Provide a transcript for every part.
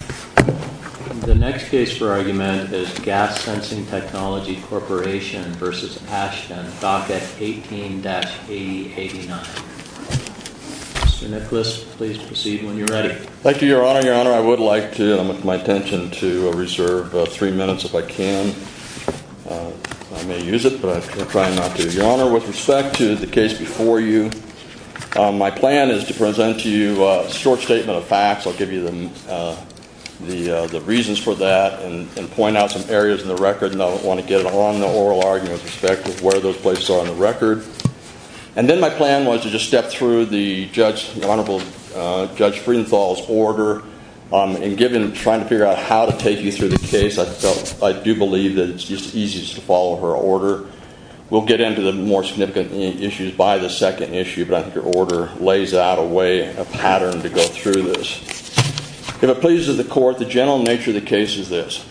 The next case for argument is Gas Sensing Technology Corporation v. Ashton, Docket 18-8089. Mr. Nicholas, please proceed when you're ready. Thank you, Your Honor. Your Honor, I would like to, with my attention, to reserve three minutes if I can. I may use it, but I'm trying not to. Your Honor, with respect to the case before you, my plan is to present to you a short statement of facts. I'll give you the reasons for that and point out some areas in the record. I want to get it on the oral argument with respect to where those places are on the record. And then my plan was to just step through the Honorable Judge Friedenthal's order. In trying to figure out how to take you through the case, I do believe that it's easiest to follow her order. We'll get into the more significant issues by the second issue, but I think your order lays out a way, a pattern to go through this. If it pleases the Court, the general nature of the case is this.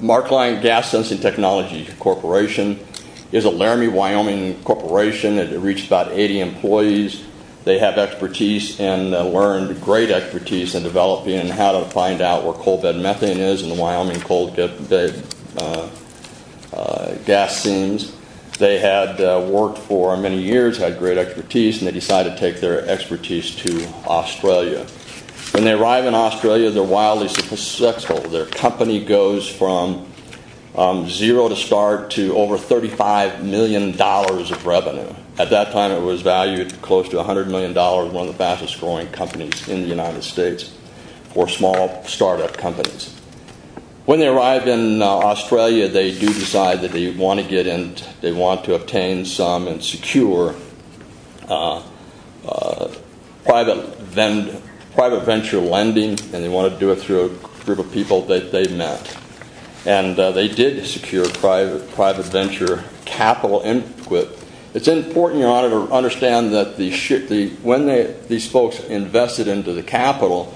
Mark Lyon Gas Sensing Technology Corporation is a Laramie, Wyoming corporation. It reached about 80 employees. They have expertise and learned great expertise in developing how to find out where coal bed methane is in the Wyoming coal bed gas seams. They had worked for many years, had great expertise, and they decided to take their expertise to Australia. When they arrive in Australia, they're wildly successful. Their company goes from zero to start to over $35 million of revenue. At that time, it was valued at close to $100 million, one of the fastest-growing companies in the United States for small startup companies. When they arrive in Australia, they do decide that they want to obtain some and secure private venture lending, and they want to do it through a group of people that they've met. They did secure private venture capital input. It's important, Your Honor, to understand that when these folks invested into the capital,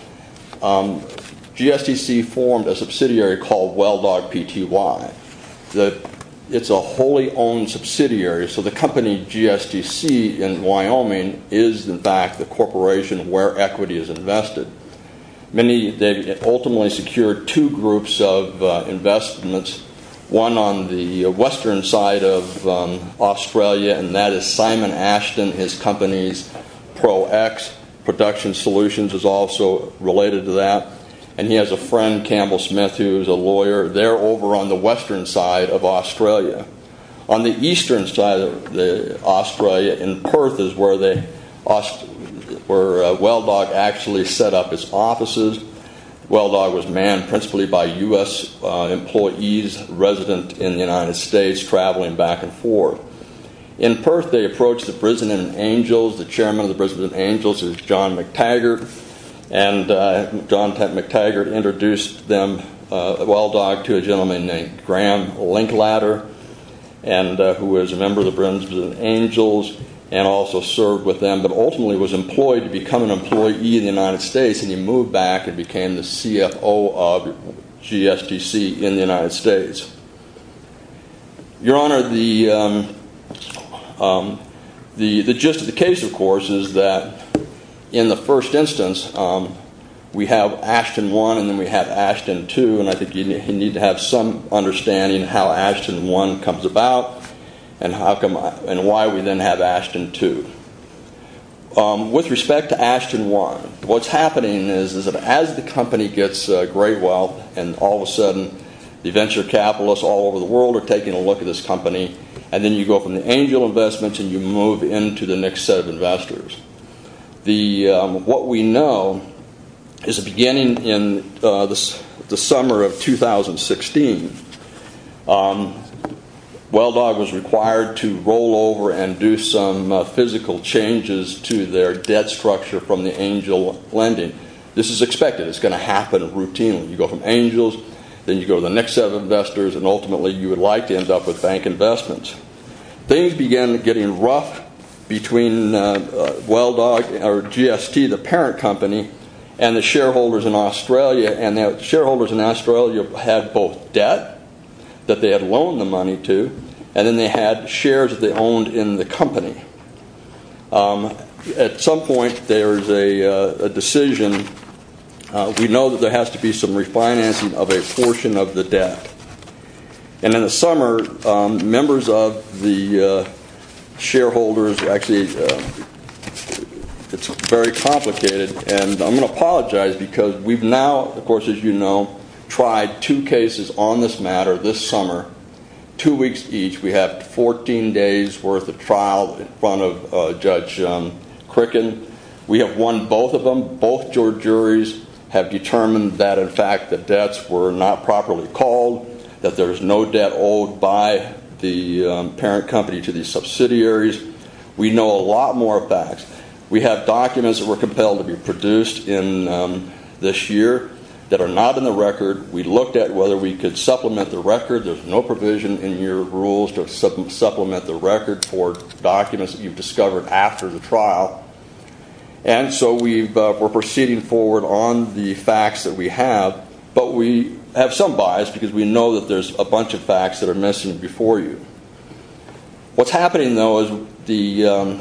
GSDC formed a subsidiary called WellDog Pty. It's a wholly-owned subsidiary, so the company GSDC in Wyoming is, in fact, the corporation where equity is invested. They ultimately secured two groups of investments, one on the western side of Australia, and that is Simon Ashton. His company's Pro-X Production Solutions is also related to that, and he has a friend, Campbell Smith, who is a lawyer. They're over on the western side of Australia. On the eastern side of Australia, in Perth, is where WellDog actually set up its offices. WellDog was manned principally by U.S. employees resident in the United States traveling back and forth. In Perth, they approached the Brisbane Angels. The chairman of the Brisbane Angels is John McTaggart, and John McTaggart introduced WellDog to a gentleman named Graham Linklater, who was a member of the Brisbane Angels and also served with them but ultimately was employed to become an employee in the United States, and he moved back and became the CFO of GSDC in the United States. Your Honor, the gist of the case, of course, is that in the first instance, we have Ashton 1 and then we have Ashton 2, and I think you need to have some understanding of how Ashton 1 comes about and why we then have Ashton 2. With respect to Ashton 1, what's happening is that as the company gets great wealth and all of a sudden the venture capitalists all over the world are taking a look at this company, and then you go from the Angel investments and you move into the next set of investors. What we know is beginning in the summer of 2016, WellDog was required to roll over and do some physical changes to their debt structure from the Angel lending. This is expected. It's going to happen routinely. You go from Angels, then you go to the next set of investors, and ultimately you would like to end up with bank investments. Things began getting rough between GST, the parent company, and the shareholders in Australia, and the shareholders in Australia had both debt that they had loaned the money to, and then they had shares that they owned in the company. At some point there is a decision. We know that there has to be some refinancing of a portion of the debt. In the summer, members of the shareholders actually, it's very complicated, and I'm going to apologize because we've now, of course, as you know, tried two cases on this matter this summer, two weeks each. We have 14 days worth of trial in front of Judge Crickin. We have won both of them. Both juries have determined that, in fact, the debts were not properly called, that there is no debt owed by the parent company to the subsidiaries. We know a lot more facts. We have documents that were compelled to be produced this year that are not in the record. We looked at whether we could supplement the record. There's no provision in your rules to supplement the record for documents that you've discovered after the trial. And so we're proceeding forward on the facts that we have, but we have some bias because we know that there's a bunch of facts that are missing before you. What's happening, though, is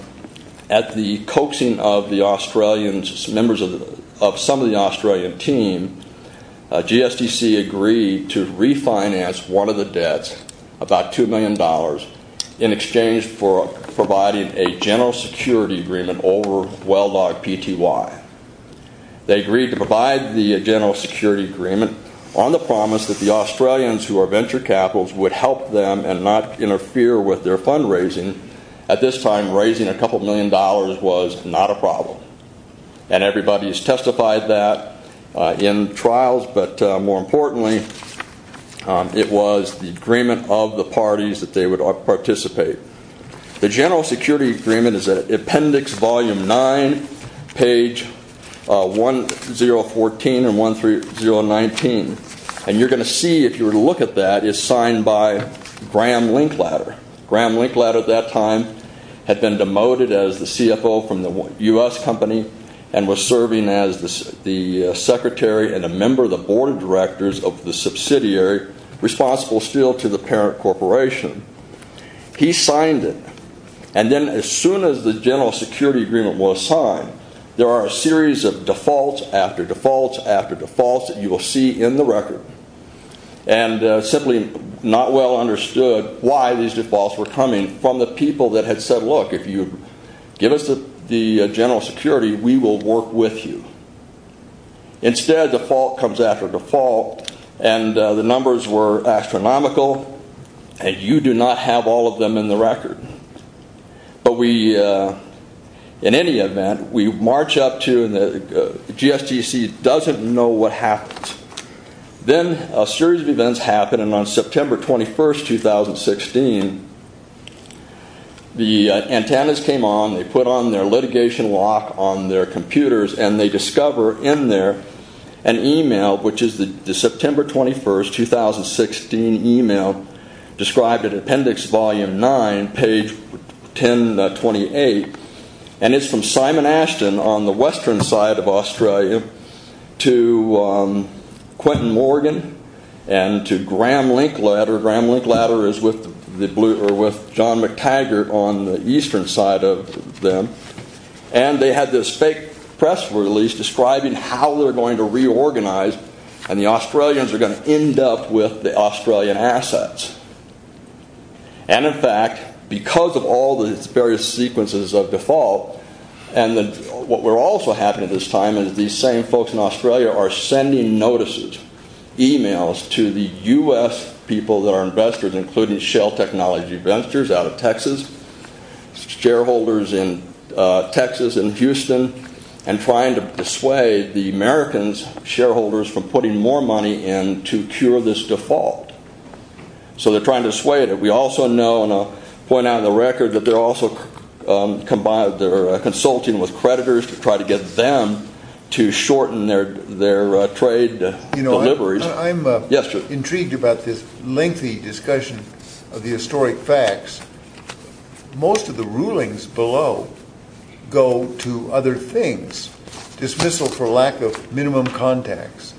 at the coaxing of the Australians, members of some of the Australian team, GSDC agreed to refinance one of the debts, about $2 million, in exchange for providing a general security agreement over WellDog PTY. They agreed to provide the general security agreement on the promise that the Australians, who are venture capitals, would help them and not interfere with their fundraising. At this time, raising a couple million dollars was not a problem. And everybody has testified that in trials, but more importantly, it was the agreement of the parties that they would participate. The general security agreement is at Appendix Volume 9, page 1014 and 13019. And you're going to see, if you were to look at that, it's signed by Graham Linklater. Graham Linklater at that time had been demoted as the CFO from the U.S. company and was serving as the secretary and a member of the board of directors of the subsidiary responsible still to the parent corporation. He signed it. And then as soon as the general security agreement was signed, there are a series of defaults after defaults after defaults that you will see in the record. And simply not well understood why these defaults were coming from the people that had said, look, if you give us the general security, we will work with you. Instead, default comes after default, and the numbers were astronomical, and you do not have all of them in the record. But we, in any event, we march up to, and the GSTC doesn't know what happened. Then a series of events happened, and on September 21, 2016, the antennas came on, they put on their litigation lock on their computers, and they discover in there an email, which is the September 21, 2016 email described in Appendix Volume 9, page 1028, and it's from Simon Ashton on the western side of Australia to Quentin Morgan and to Graham Linkletter, Graham Linkletter is with John McTaggart on the eastern side of them, and they had this fake press release describing how they were going to reorganize and the Australians were going to end up with the Australian assets. And in fact, because of all the various sequences of default, and what were also happening at this time is these same folks in Australia are sending notices, emails to the U.S. people that are investors, including Shell Technology Ventures out of Texas, shareholders in Texas and Houston, and trying to dissuade the Americans, shareholders, from putting more money in to cure this default. So they're trying to dissuade it. We also know, and I'll point out in the record, that they're also consulting with creditors to try to get them to shorten their trade, I'm intrigued about this lengthy discussion of the historic facts. Most of the rulings below go to other things, dismissal for lack of minimum contacts,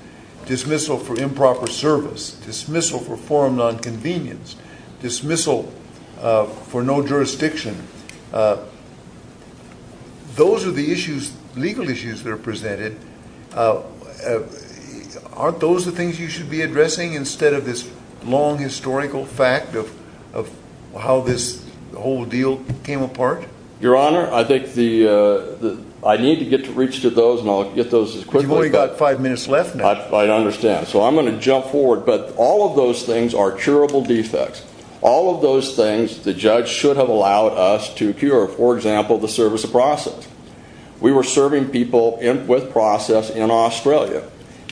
dismissal for improper service, dismissal for forum nonconvenience, dismissal for no jurisdiction. Those are the issues, legal issues that are presented. Aren't those the things you should be addressing instead of this long historical fact of how this whole deal came apart? Your Honor, I think I need to get to reach to those and I'll get those as quickly as I can. You've only got five minutes left now. I understand. So I'm going to jump forward, but all of those things are curable defects. All of those things the judge should have allowed us to cure. For example, the service of process. We were serving people with process in Australia.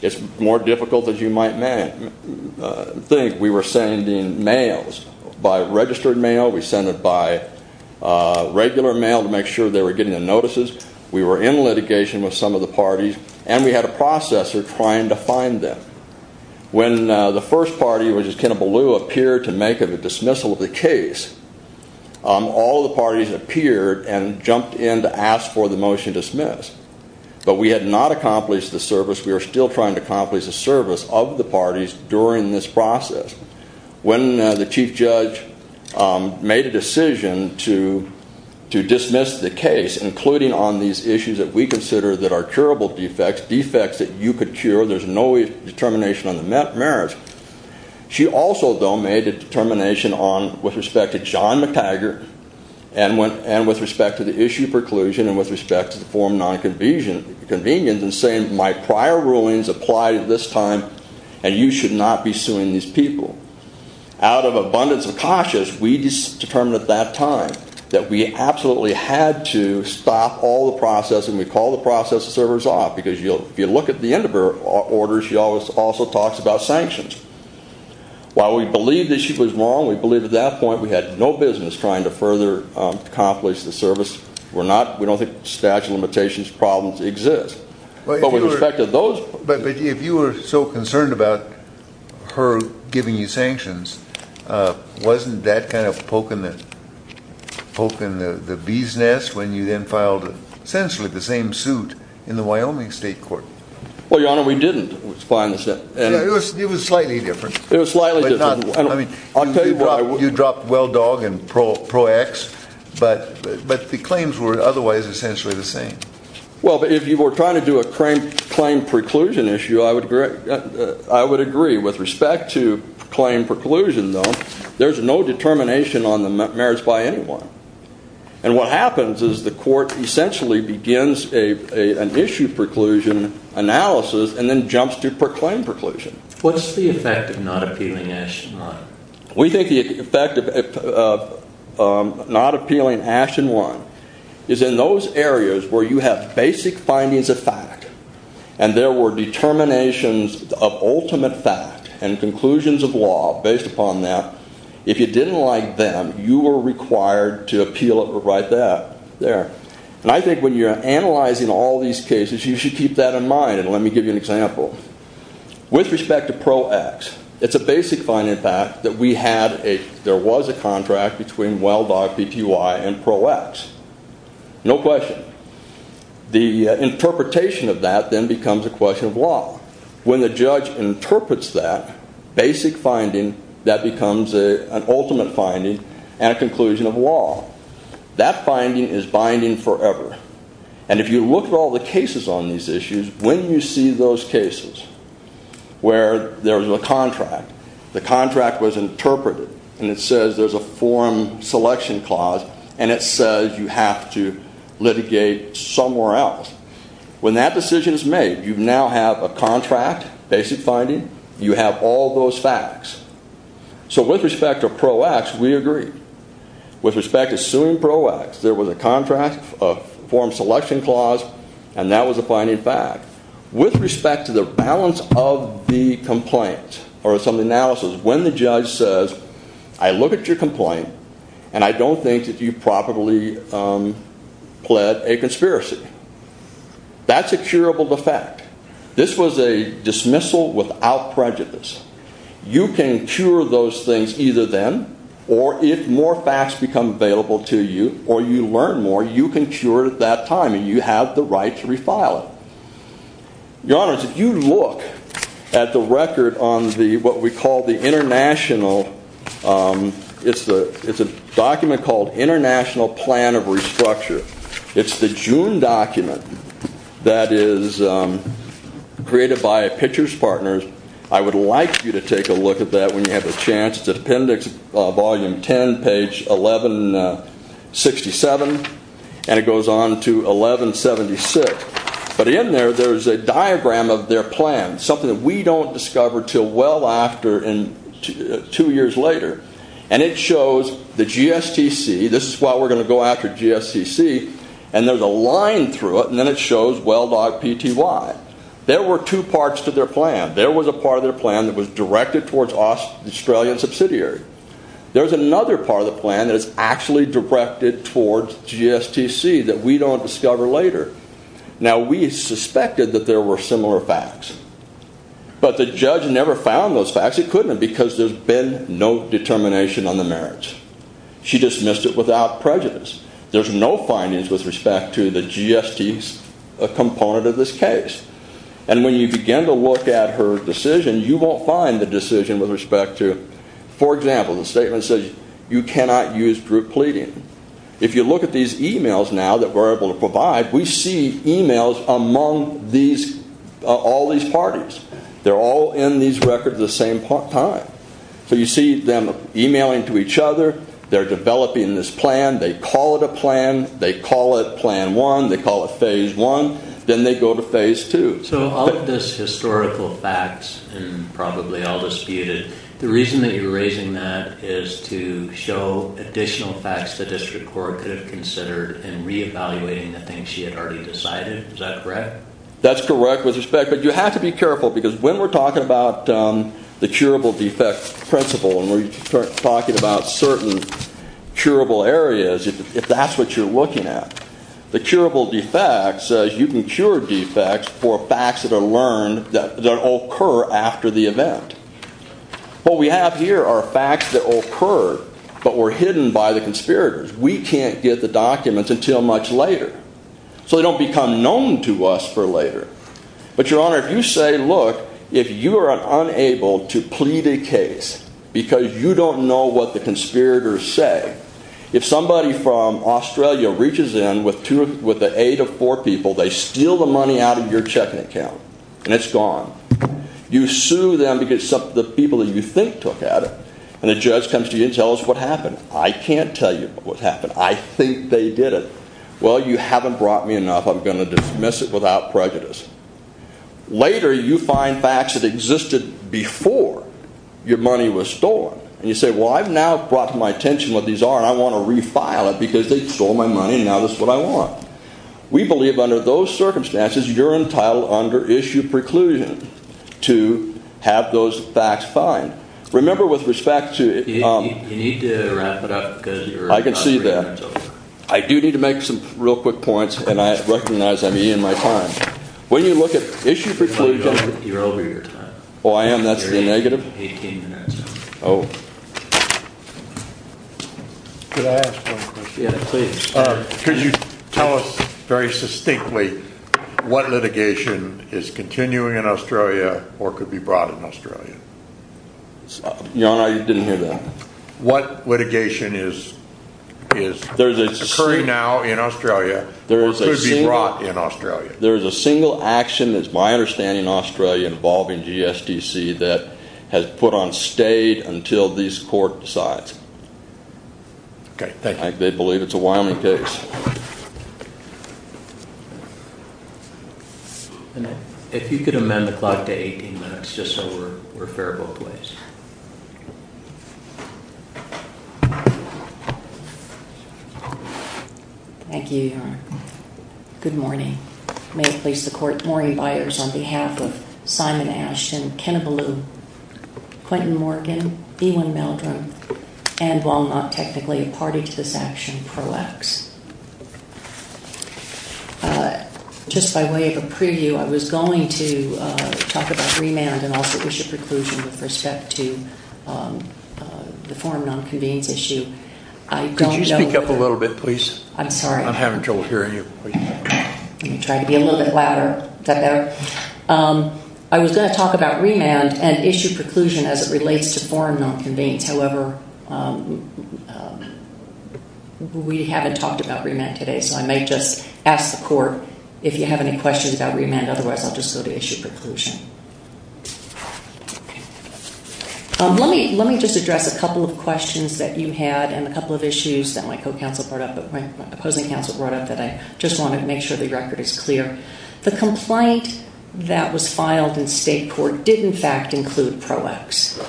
It's more difficult than you might think. We were sending mails. By registered mail, we sent it by regular mail to make sure they were getting the notices. We were in litigation with some of the parties and we had a processor trying to find them. When the first party, which is Kenabalu, appeared to make a dismissal of the case, all the parties appeared and jumped in to ask for the motion dismissed. But we had not accomplished the service. We are still trying to accomplish the service of the parties during this process. When the chief judge made a decision to dismiss the case, including on these issues that we consider that are curable defects, defects that you could cure, there's no determination on the merits. She also, though, made a determination with respect to John McTaggart and with respect to the issue of preclusion and with respect to the form of nonconvenience in saying my prior rulings apply at this time and you should not be suing these people. Out of abundance of cautious, we determined at that time that we absolutely had to stop all the processing. We called the process servers off because if you look at the end of her orders, she also talks about sanctions. While we believe the issue was wrong, we believe at that point we had no business trying to further accomplish the service. We don't think statute of limitations problems exist. But with respect to those— But if you were so concerned about her giving you sanctions, wasn't that kind of poking the bee's nest when you then filed essentially the same suit in the Wyoming State Court? Well, Your Honor, we didn't. It was slightly different. It was slightly different. You dropped WellDog and Pro-X, but the claims were otherwise essentially the same. Well, if you were trying to do a claim preclusion issue, I would agree. With respect to claim preclusion, though, there's no determination on the merits by anyone. And what happens is the court essentially begins an issue preclusion analysis and then jumps to proclaim preclusion. What's the effect of not appealing Ash and Run? We think the effect of not appealing Ash and Run is in those areas where you have basic findings of fact and there were determinations of ultimate fact and conclusions of law based upon that. If you didn't like them, you were required to appeal it right there. And I think when you're analyzing all these cases, you should keep that in mind. And let me give you an example. With respect to Pro-X, it's a basic finding of fact that we had a— there was a contract between WellDog Pty and Pro-X. No question. The interpretation of that then becomes a question of law. When the judge interprets that basic finding, that becomes an ultimate finding and a conclusion of law. That finding is binding forever. And if you look at all the cases on these issues, when you see those cases where there's a contract, the contract was interpreted and it says there's a form selection clause and it says you have to litigate somewhere else. When that decision is made, you now have a contract, basic finding, you have all those facts. So with respect to Pro-X, we agree. With respect to suing Pro-X, there was a contract, a form selection clause, and that was a binding fact. With respect to the balance of the complaint or some analysis, when the judge says, I look at your complaint and I don't think that you probably pled a conspiracy, that's a curable defect. This was a dismissal without prejudice. You can cure those things either then or if more facts become available to you or you learn more, you can cure it at that time and you have the right to refile it. Your Honor, if you look at the record on the— it's a document called International Plan of Restructure. It's the June document that is created by Pitchers Partners. I would like you to take a look at that when you have a chance. It's appendix volume 10, page 1167 and it goes on to 1176. But in there, there's a diagram of their plan, something that we don't discover until well after two years later. And it shows the GSTC. This is what we're going to go after, GSTC. And there's a line through it and then it shows WellDOT PTY. There were two parts to their plan. There was a part of their plan that was directed towards Australian subsidiary. There's another part of the plan that is actually directed towards GSTC that we don't discover later. Now, we suspected that there were similar facts. But the judge never found those facts. In fact, she couldn't because there's been no determination on the merits. She dismissed it without prejudice. There's no findings with respect to the GST component of this case. And when you begin to look at her decision, you won't find the decision with respect to— for example, the statement says you cannot use group pleading. If you look at these emails now that we're able to provide, we see emails among all these parties. They're all in these records at the same time. So you see them emailing to each other. They're developing this plan. They call it a plan. They call it Plan 1. They call it Phase 1. Then they go to Phase 2. So all of this historical facts and probably all disputed, the reason that you're raising that is to show additional facts the district court could have considered in reevaluating the things she had already decided. Is that correct? That's correct with respect. But you have to be careful because when we're talking about the curable defects principle and we're talking about certain curable areas, if that's what you're looking at, the curable defects says you can cure defects for facts that are learned that occur after the event. What we have here are facts that occur but were hidden by the conspirators. We can't get the documents until much later. So they don't become known to us for later. But, Your Honor, if you say, look, if you are unable to plead a case because you don't know what the conspirators say, if somebody from Australia reaches in with the aid of four people, they steal the money out of your checking account, and it's gone. You sue them because the people that you think took at it, and the judge comes to you and tells us what happened. I can't tell you what happened. I think they did it. Well, you haven't brought me enough. I'm going to dismiss it without prejudice. Later, you find facts that existed before your money was stolen. And you say, well, I've now brought to my attention what these are, and I want to refile it because they stole my money, and now this is what I want. We believe under those circumstances you're entitled under issue preclusion to have those facts fined. Remember, with respect to... You need to wrap it up because you're... I can see that. I do need to make some real quick points, and I recognize I'm eating my time. When you look at issue preclusion... No, you're over your time. Oh, I am? That's the negative? You're 18 minutes in. Oh. Could I ask one question? Yeah, please. Could you tell us very succinctly what litigation is continuing in Australia or could be brought in Australia? Your Honor, you didn't hear that. What litigation is occurring now in Australia or could be brought in Australia? There is a single action that's, my understanding in Australia, involving GSDC that has put on stay until this court decides. Okay, thank you. They believe it's a Wyoming case. If you could amend the clock to 18 minutes just so we're fair both ways. Thank you, Your Honor. Good morning. May it please the Court, Maureen Byers on behalf of Simon Ashton, Kenna Ballou, Quentin Morgan, Ewan Meldrum, and while not technically a party to this action, Pro-Ex. Just by way of a preview, I was going to talk about remand and also issue preclusion with respect to the forum non-convenes issue. Could you speak up a little bit, please? I'm sorry. I'm having trouble hearing you. Let me try to be a little bit louder. Is that better? I was going to talk about remand and issue preclusion as it relates to forum non-convenes. However, we haven't talked about remand today, so I might just ask the Court if you have any questions about remand. Otherwise, I'll just go to issue preclusion. Let me just address a couple of questions that you had and a couple of issues that my opposing counsel brought up that I just want to make sure the record is clear. The complaint that was filed in state court did, in fact, include Pro-Ex.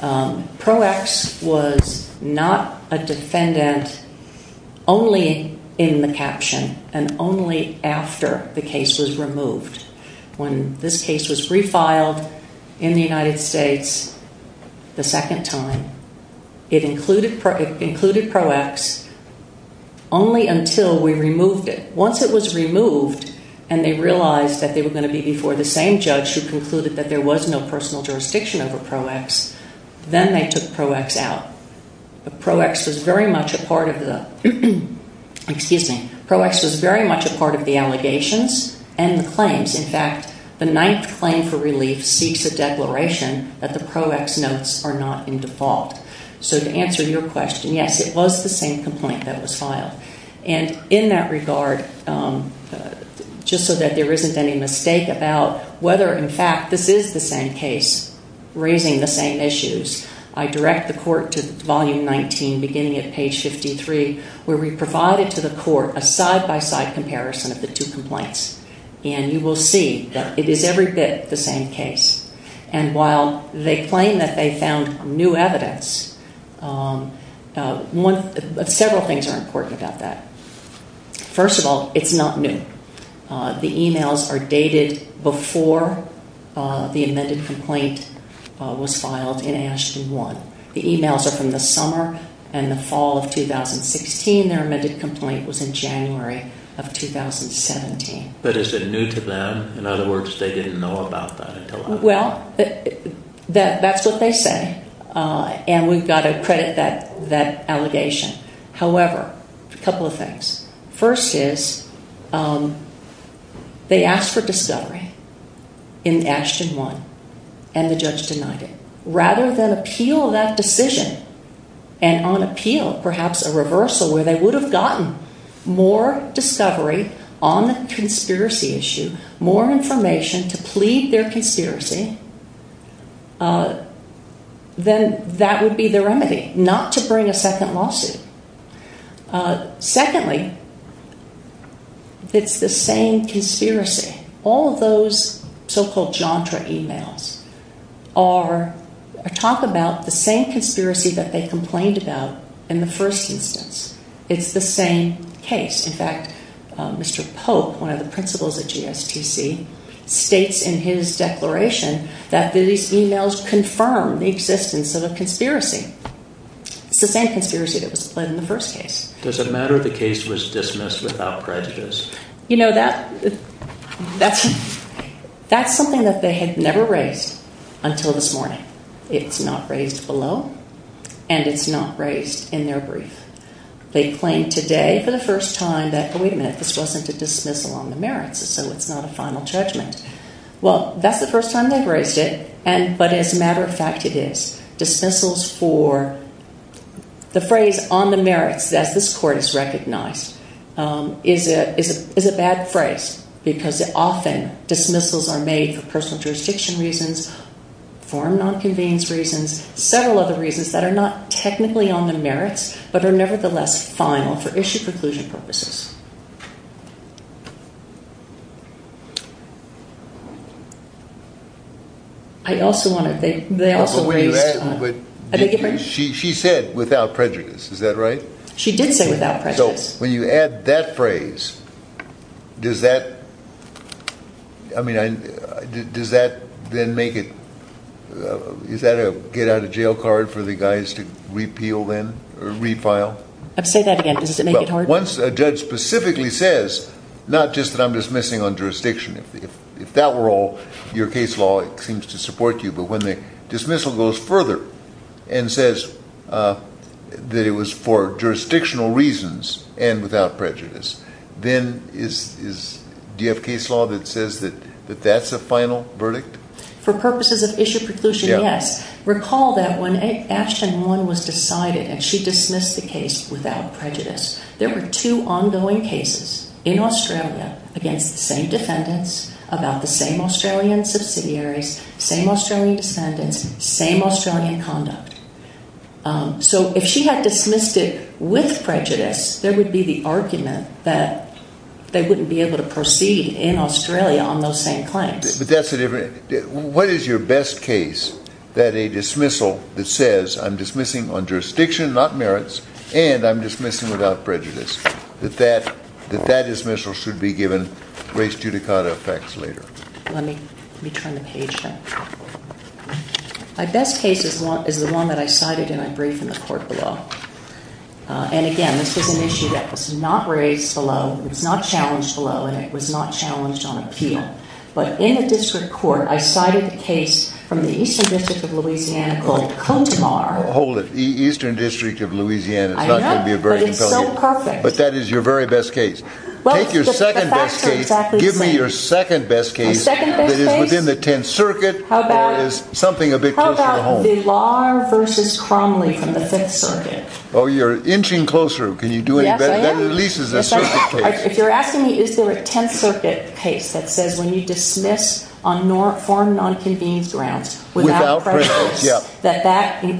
Pro-Ex was not a defendant only in the caption and only after the case was removed. When this case was refiled in the United States the second time, it included Pro-Ex only until we removed it. Once it was removed and they realized that they were going to be before the same judge who concluded that there was no personal jurisdiction over Pro-Ex, then they took Pro-Ex out. Pro-Ex was very much a part of the allegations and the claims. In fact, the ninth claim for relief seeks a declaration that the Pro-Ex notes are not in default. To answer your question, yes, it was the same complaint that was filed. In that regard, just so that there isn't any mistake about whether, in fact, this is the same case raising the same issues, I direct the Court to Volume 19, beginning at page 53, where we provide it to the Court for a side-by-side comparison of the two complaints. And you will see that it is every bit the same case. And while they claim that they found new evidence, several things are important about that. First of all, it's not new. The emails are dated before the amended complaint was filed in Ashton 1. The emails are from the summer and the fall of 2016. Their amended complaint was in January of 2017. But is it new to them? In other words, they didn't know about that until after. Well, that's what they say. And we've got to credit that allegation. However, a couple of things. First is, they asked for discovery in Ashton 1 and the judge denied it. Rather than appeal that decision, and on appeal, perhaps a reversal, where they would have gotten more discovery on the conspiracy issue, more information to plead their conspiracy, then that would be the remedy, not to bring a second lawsuit. Secondly, it's the same conspiracy. All of those so-called Jantra emails talk about the same conspiracy that they complained about in the first instance. It's the same case. In fact, Mr. Pope, one of the principals at GSTC, states in his declaration that these emails confirm the existence of a conspiracy. It's the same conspiracy that was pled in the first case. Does it matter the case was dismissed without prejudice? You know, that's something that they had never raised until this morning. It's not raised below, and it's not raised in their brief. They claim today for the first time that, wait a minute, this wasn't a dismissal on the merits, so it's not a final judgment. Well, that's the first time they've raised it, but as a matter of fact it is. Dismissals for the phrase on the merits, as this court has recognized, is a bad phrase because often dismissals are made for personal jurisdiction reasons, foreign non-convenience reasons, several other reasons that are not technically on the merits but are nevertheless final for issue-conclusion purposes. I also want to think they also raised... She said without prejudice, is that right? She did say without prejudice. So when you add that phrase, does that... I mean, does that then make it... Is that a get-out-of-jail card for the guys to repeal then, or refile? Say that again. Does it make it hard? Once a judge specifically says, not just that I'm dismissing on jurisdiction, if that were all your case law, it seems to support you, but when the dismissal goes further and says that it was for jurisdictional reasons and without prejudice, then do you have case law that says that that's a final verdict? For purposes of issue-conclusion, yes. Recall that when Action 1 was decided and she dismissed the case without prejudice, there were two ongoing cases in Australia against the same defendants, about the same Australian subsidiaries, same Australian descendants, same Australian conduct. So if she had dismissed it with prejudice, there would be the argument that they wouldn't be able to proceed in Australia on those same claims. But that's a different... What is your best case that a dismissal that says I'm dismissing on jurisdiction, not merits, and I'm dismissing without prejudice, that that dismissal should be given race judicata effects later? Let me turn the page there. My best case is the one that I cited and I briefed in the court below. And again, this is an issue that was not raised below, it was not challenged below, and it was not challenged on appeal. But in a district court, I cited the case from the Eastern District of Louisiana called Cozumar... Hold it. Eastern District of Louisiana, it's not going to be a very compelling... I know, but it's so perfect. But that is your very best case. Take your second best case... Well, the facts are exactly the same. Give me your second best case... My second best case? ...that is within the Tenth Circuit... How about... ...or is something a bit closer to home? How about Vilar v. Cromley from the Fifth Circuit? Oh, you're inching closer. Can you do any better? Yes, I am. That at least is a circuit case. If you're asking me, is there a Tenth Circuit case that says when you dismiss on foreign non-convenience grounds... Without prejudice. ...without prejudice, that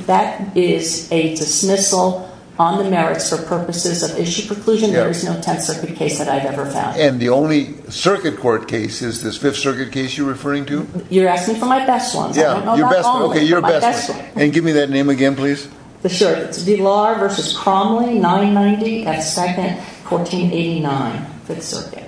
that is a dismissal on the merits for purposes of issue preclusion? There is no Tenth Circuit case that I've ever found. And the only circuit court case is this Fifth Circuit case you're referring to? You're asking for my best ones. I don't know about all of them. Your best ones. Okay, your best ones. And give me that name again, please. Sure. It's Vilar v. Cromley, 990, at 2nd, 1489, Fifth Circuit.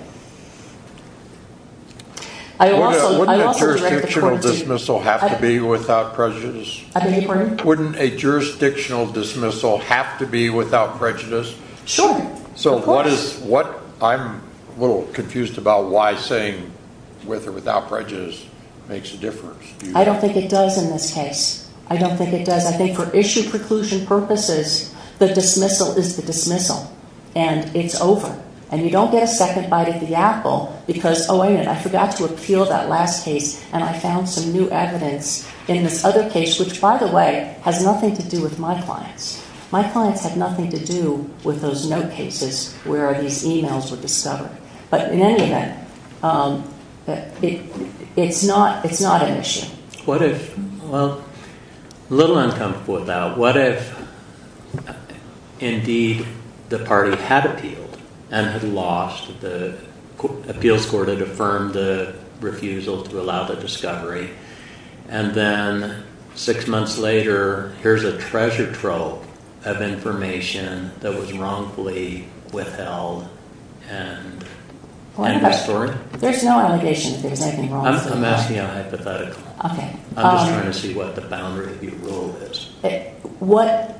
Wouldn't a jurisdictional dismissal have to be without prejudice? I beg your pardon? Wouldn't a jurisdictional dismissal have to be without prejudice? Sure, of course. So what is... I'm a little confused about why saying with or without prejudice makes a difference. I don't think it does in this case. I don't think it does. I think for issue preclusion purposes, the dismissal is the dismissal, and it's over. And you don't get a second bite at the apple because, oh, wait a minute, I forgot to appeal that last case, and I found some new evidence in this other case, which, by the way, has nothing to do with my clients. My clients have nothing to do with those no cases where these e-mails were discovered. But in any event, it's not a mission. What if... Well, a little uncomfortable with that. What if, indeed, the party had appealed and had lost the... Appeals Court had affirmed the refusal to allow the discovery, and then six months later, here's a treasure trove of information that was wrongfully withheld and restored? There's no allegation that there's anything wrong... I'm asking a hypothetical. Okay. I'm just trying to see what the boundary of your rule is. What...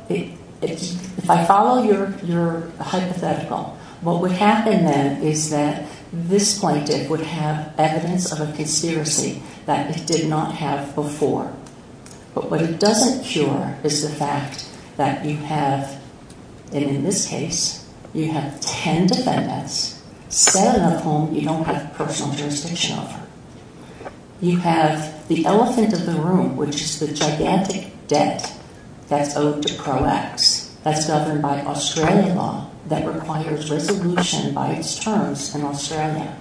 If I follow your hypothetical, what would happen then is that this plaintiff would have evidence of a conspiracy that it did not have before. But what it doesn't cure is the fact that you have, and in this case, you have ten defendants, seven of whom you don't have personal jurisdiction over. You have the elephant in the room, which is the gigantic debt that's owed to Cro-X that's governed by Australian law that requires resolution by its terms in Australia.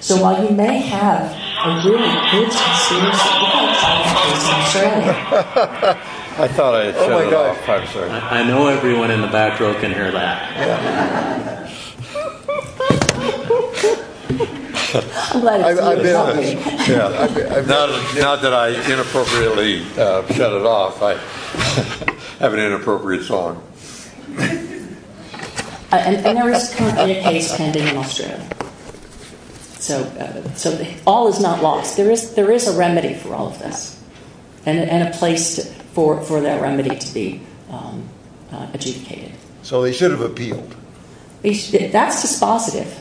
So while you may have... I thought I had shut it off. I'm sorry. I know everyone in the back row can hear that. I'm glad it's over. Now that I inappropriately shut it off, I have an inappropriate song. An interest court case handed in Australia. So all is not lost. There is a remedy for all of this and a place for that remedy to be adjudicated. So they should have appealed. That's dispositive.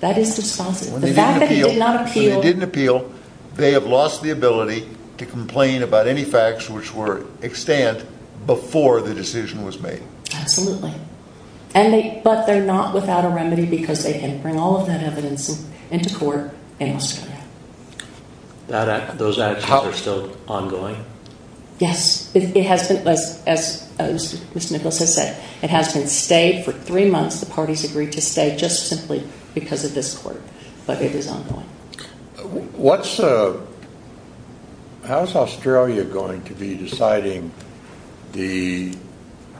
That is dispositive. The fact that he did not appeal... When they didn't appeal, they have lost the ability to complain about any facts which were extant before the decision was made. Absolutely. But they're not without a remedy because they can bring all of that evidence into court in Australia. Those actions are still ongoing? Yes. It has been, as Mr. Nichols has said, it has been stayed for three months. The parties agreed to stay just simply because of this court. But it is ongoing. How is Australia going to be deciding the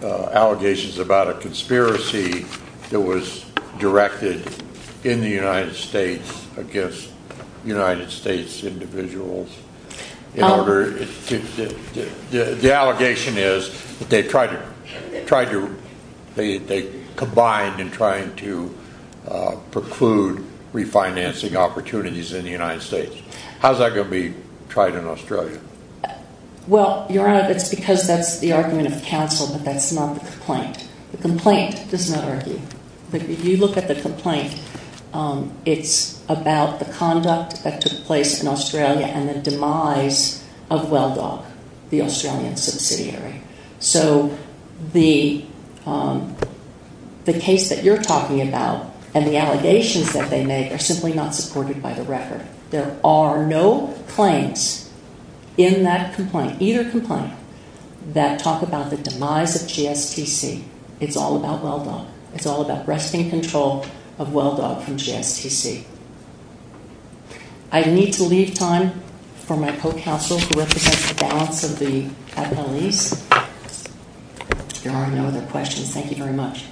allegations about a conspiracy that was directed in the United States against United States individuals? The allegation is that they combined in trying to preclude refinancing opportunities in the United States. How is that going to be tried in Australia? Well, Your Honor, that's because that's the argument of counsel but that's not the complaint. The complaint does not argue. If you look at the complaint, it's about the conduct that took place in Australia and the demise of WellDoc, the Australian subsidiary. So the case that you're talking about and the allegations that they make are simply not supported by the record. There are no claims in that complaint, either complaint, that talk about the demise of GSTC. It's all about WellDoc. It's all about wresting control of WellDoc from GSTC. I need to leave time for my co-counsel who represents the balance of the appellees. There are no other questions. Thank you very much.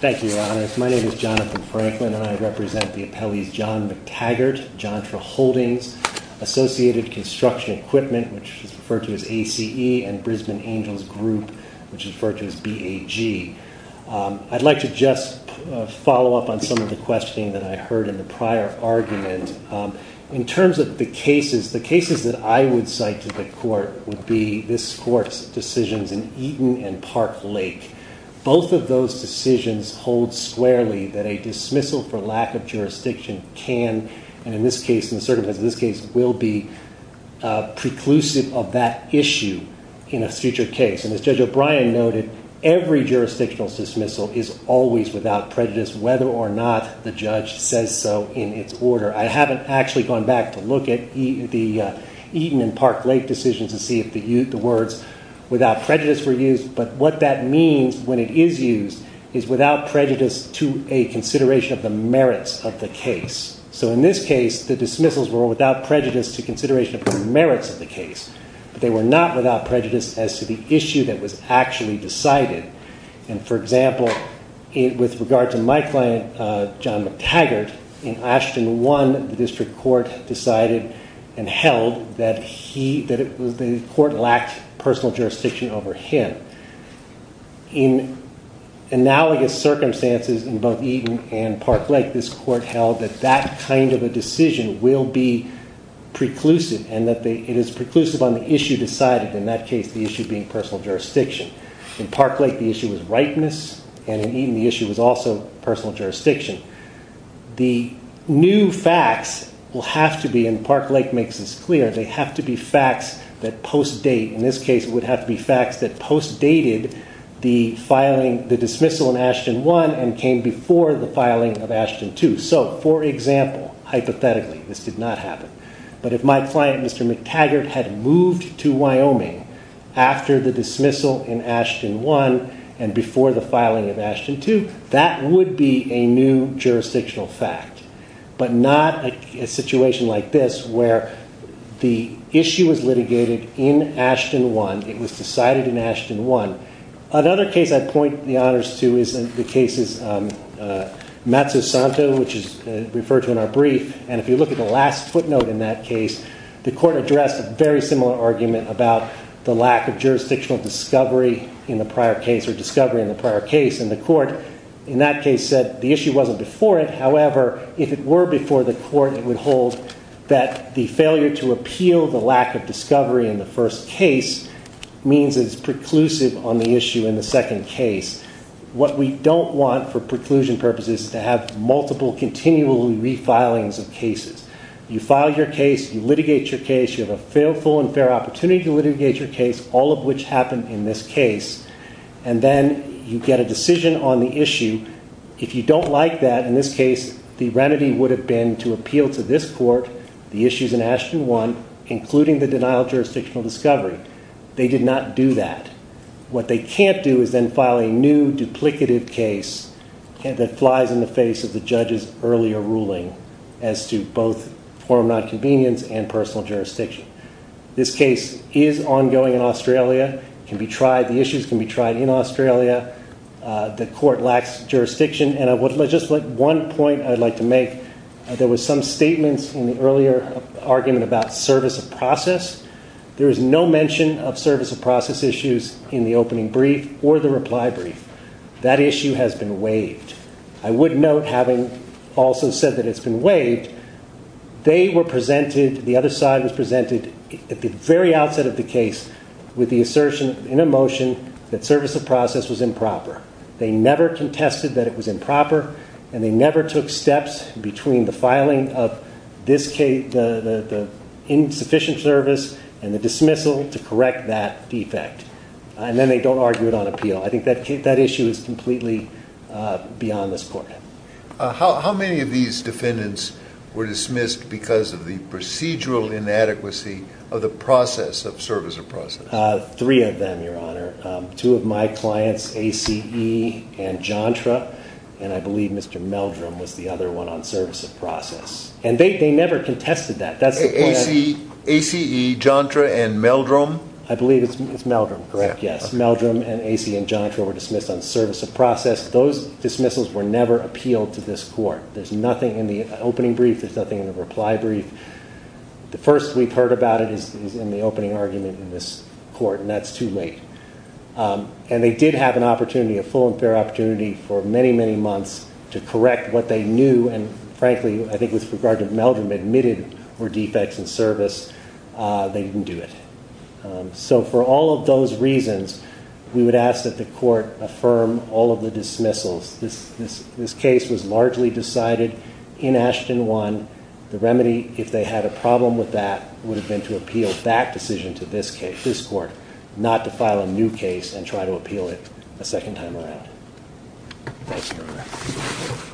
Thank you, Your Honor. My name is Jonathan Franklin and I represent the appellees John McTaggart, John Traholdings, Associated Construction Equipment, which is referred to as ACE, and Brisbane Angels Group, which is referred to as BAG. I'd like to just follow up on some of the questioning that I heard in the prior argument. In terms of the cases, the cases that I would cite to the court would be this court's decisions in Eaton and Park Lake. Both of those decisions hold squarely that a dismissal for lack of jurisdiction can, and in this case, in the circumstances of this case, will be preclusive of that issue in a future case. As Judge O'Brien noted, every jurisdictional dismissal is always without prejudice, whether or not the judge says so in its order. I haven't actually gone back to look at the Eaton and Park Lake decisions to see if the words without prejudice were used, but what that means when it is used is without prejudice to a consideration of the merits of the case. In this case, the dismissals were without prejudice to consideration of the merits of the case, but they were not without prejudice as to the issue that was actually decided. For example, with regard to my client, John McTaggart, in Ashton 1, the district court decided and held that the court lacked personal jurisdiction over him. In analogous circumstances in both Eaton and Park Lake, this court held that that kind of a decision will be preclusive, and that it is preclusive on the issue decided, in that case, the issue being personal jurisdiction. In Park Lake, the issue was ripeness, and in Eaton, the issue was also personal jurisdiction. The new facts will have to be, and Park Lake makes this clear, they have to be facts that post-date. In this case, it would have to be facts that post-dated the dismissal in Ashton 1 and came before the filing of Ashton 2. So, for example, hypothetically, this did not happen, but if my client, Mr. McTaggart, had moved to Wyoming after the dismissal in Ashton 1 and before the filing of Ashton 2, that would be a new jurisdictional fact, but not a situation like this, where the issue was litigated in Ashton 1, it was decided in Ashton 1. Another case I point the honors to is the case of Matsusanto, which is referred to in our brief, and if you look at the last footnote in that case, the court addressed a very similar argument about the lack of jurisdictional discovery in the prior case, or discovery in the prior case, and the court, in that case, said the issue wasn't before it. However, if it were before the court, it would hold that the failure to appeal the lack of discovery in the first case means it's preclusive on the issue in the second case. What we don't want for preclusion purposes is to have multiple continually refilings of cases. You file your case, you litigate your case, you have a fair opportunity to litigate your case, all of which happened in this case, and then you get a decision on the issue. If you don't like that, in this case, the remedy would have been to appeal to this court the issues in Ashton 1, including the denial of jurisdictional discovery. They did not do that. What they can't do is then file a new, duplicative case that flies in the face of the judge's earlier ruling as to both form of nonconvenience and personal jurisdiction. This case is ongoing in Australia. It can be tried. The issues can be tried in Australia. The court lacks jurisdiction. And just one point I'd like to make. There were some statements in the earlier argument about service of process. There is no mention of service of process issues in the opening brief or the reply brief. That issue has been waived. I would note, having also said that it's been waived, they were presented, the other side was presented, at the very outset of the case, with the assertion in a motion that service of process was improper. They never contested that it was improper, and they never took steps between the filing of the insufficient service and the dismissal to correct that defect. And then they don't argue it on appeal. I think that issue is completely beyond this court. How many of these defendants were dismissed because of the procedural inadequacy of the process of service of process? Three of them, Your Honor. Two of my clients, A.C.E. and Jontra, and I believe Mr. Meldrum, was the other one on service of process. And they never contested that. A.C.E., Jontra, and Meldrum? I believe it's Meldrum, correct, yes. Meldrum and A.C.E. and Jontra were dismissed on service of process. Those dismissals were never appealed to this court. There's nothing in the opening brief. There's nothing in the reply brief. The first we've heard about it is in the opening argument in this court, and that's too late. And they did have an opportunity, a full and fair opportunity for many, many months to correct what they knew, and frankly, I think with regard to Meldrum, admitted were defects in service. They didn't do it. So for all of those reasons, we would ask that the court affirm all of the dismissals. This case was largely decided in Ashton 1. The remedy, if they had a problem with that, would have been to appeal that decision to this court, not to file a new case and try to appeal it a second time around. Thanks, Your Honor.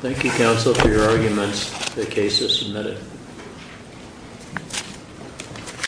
Thank you, counsel, for your arguments. The case is submitted.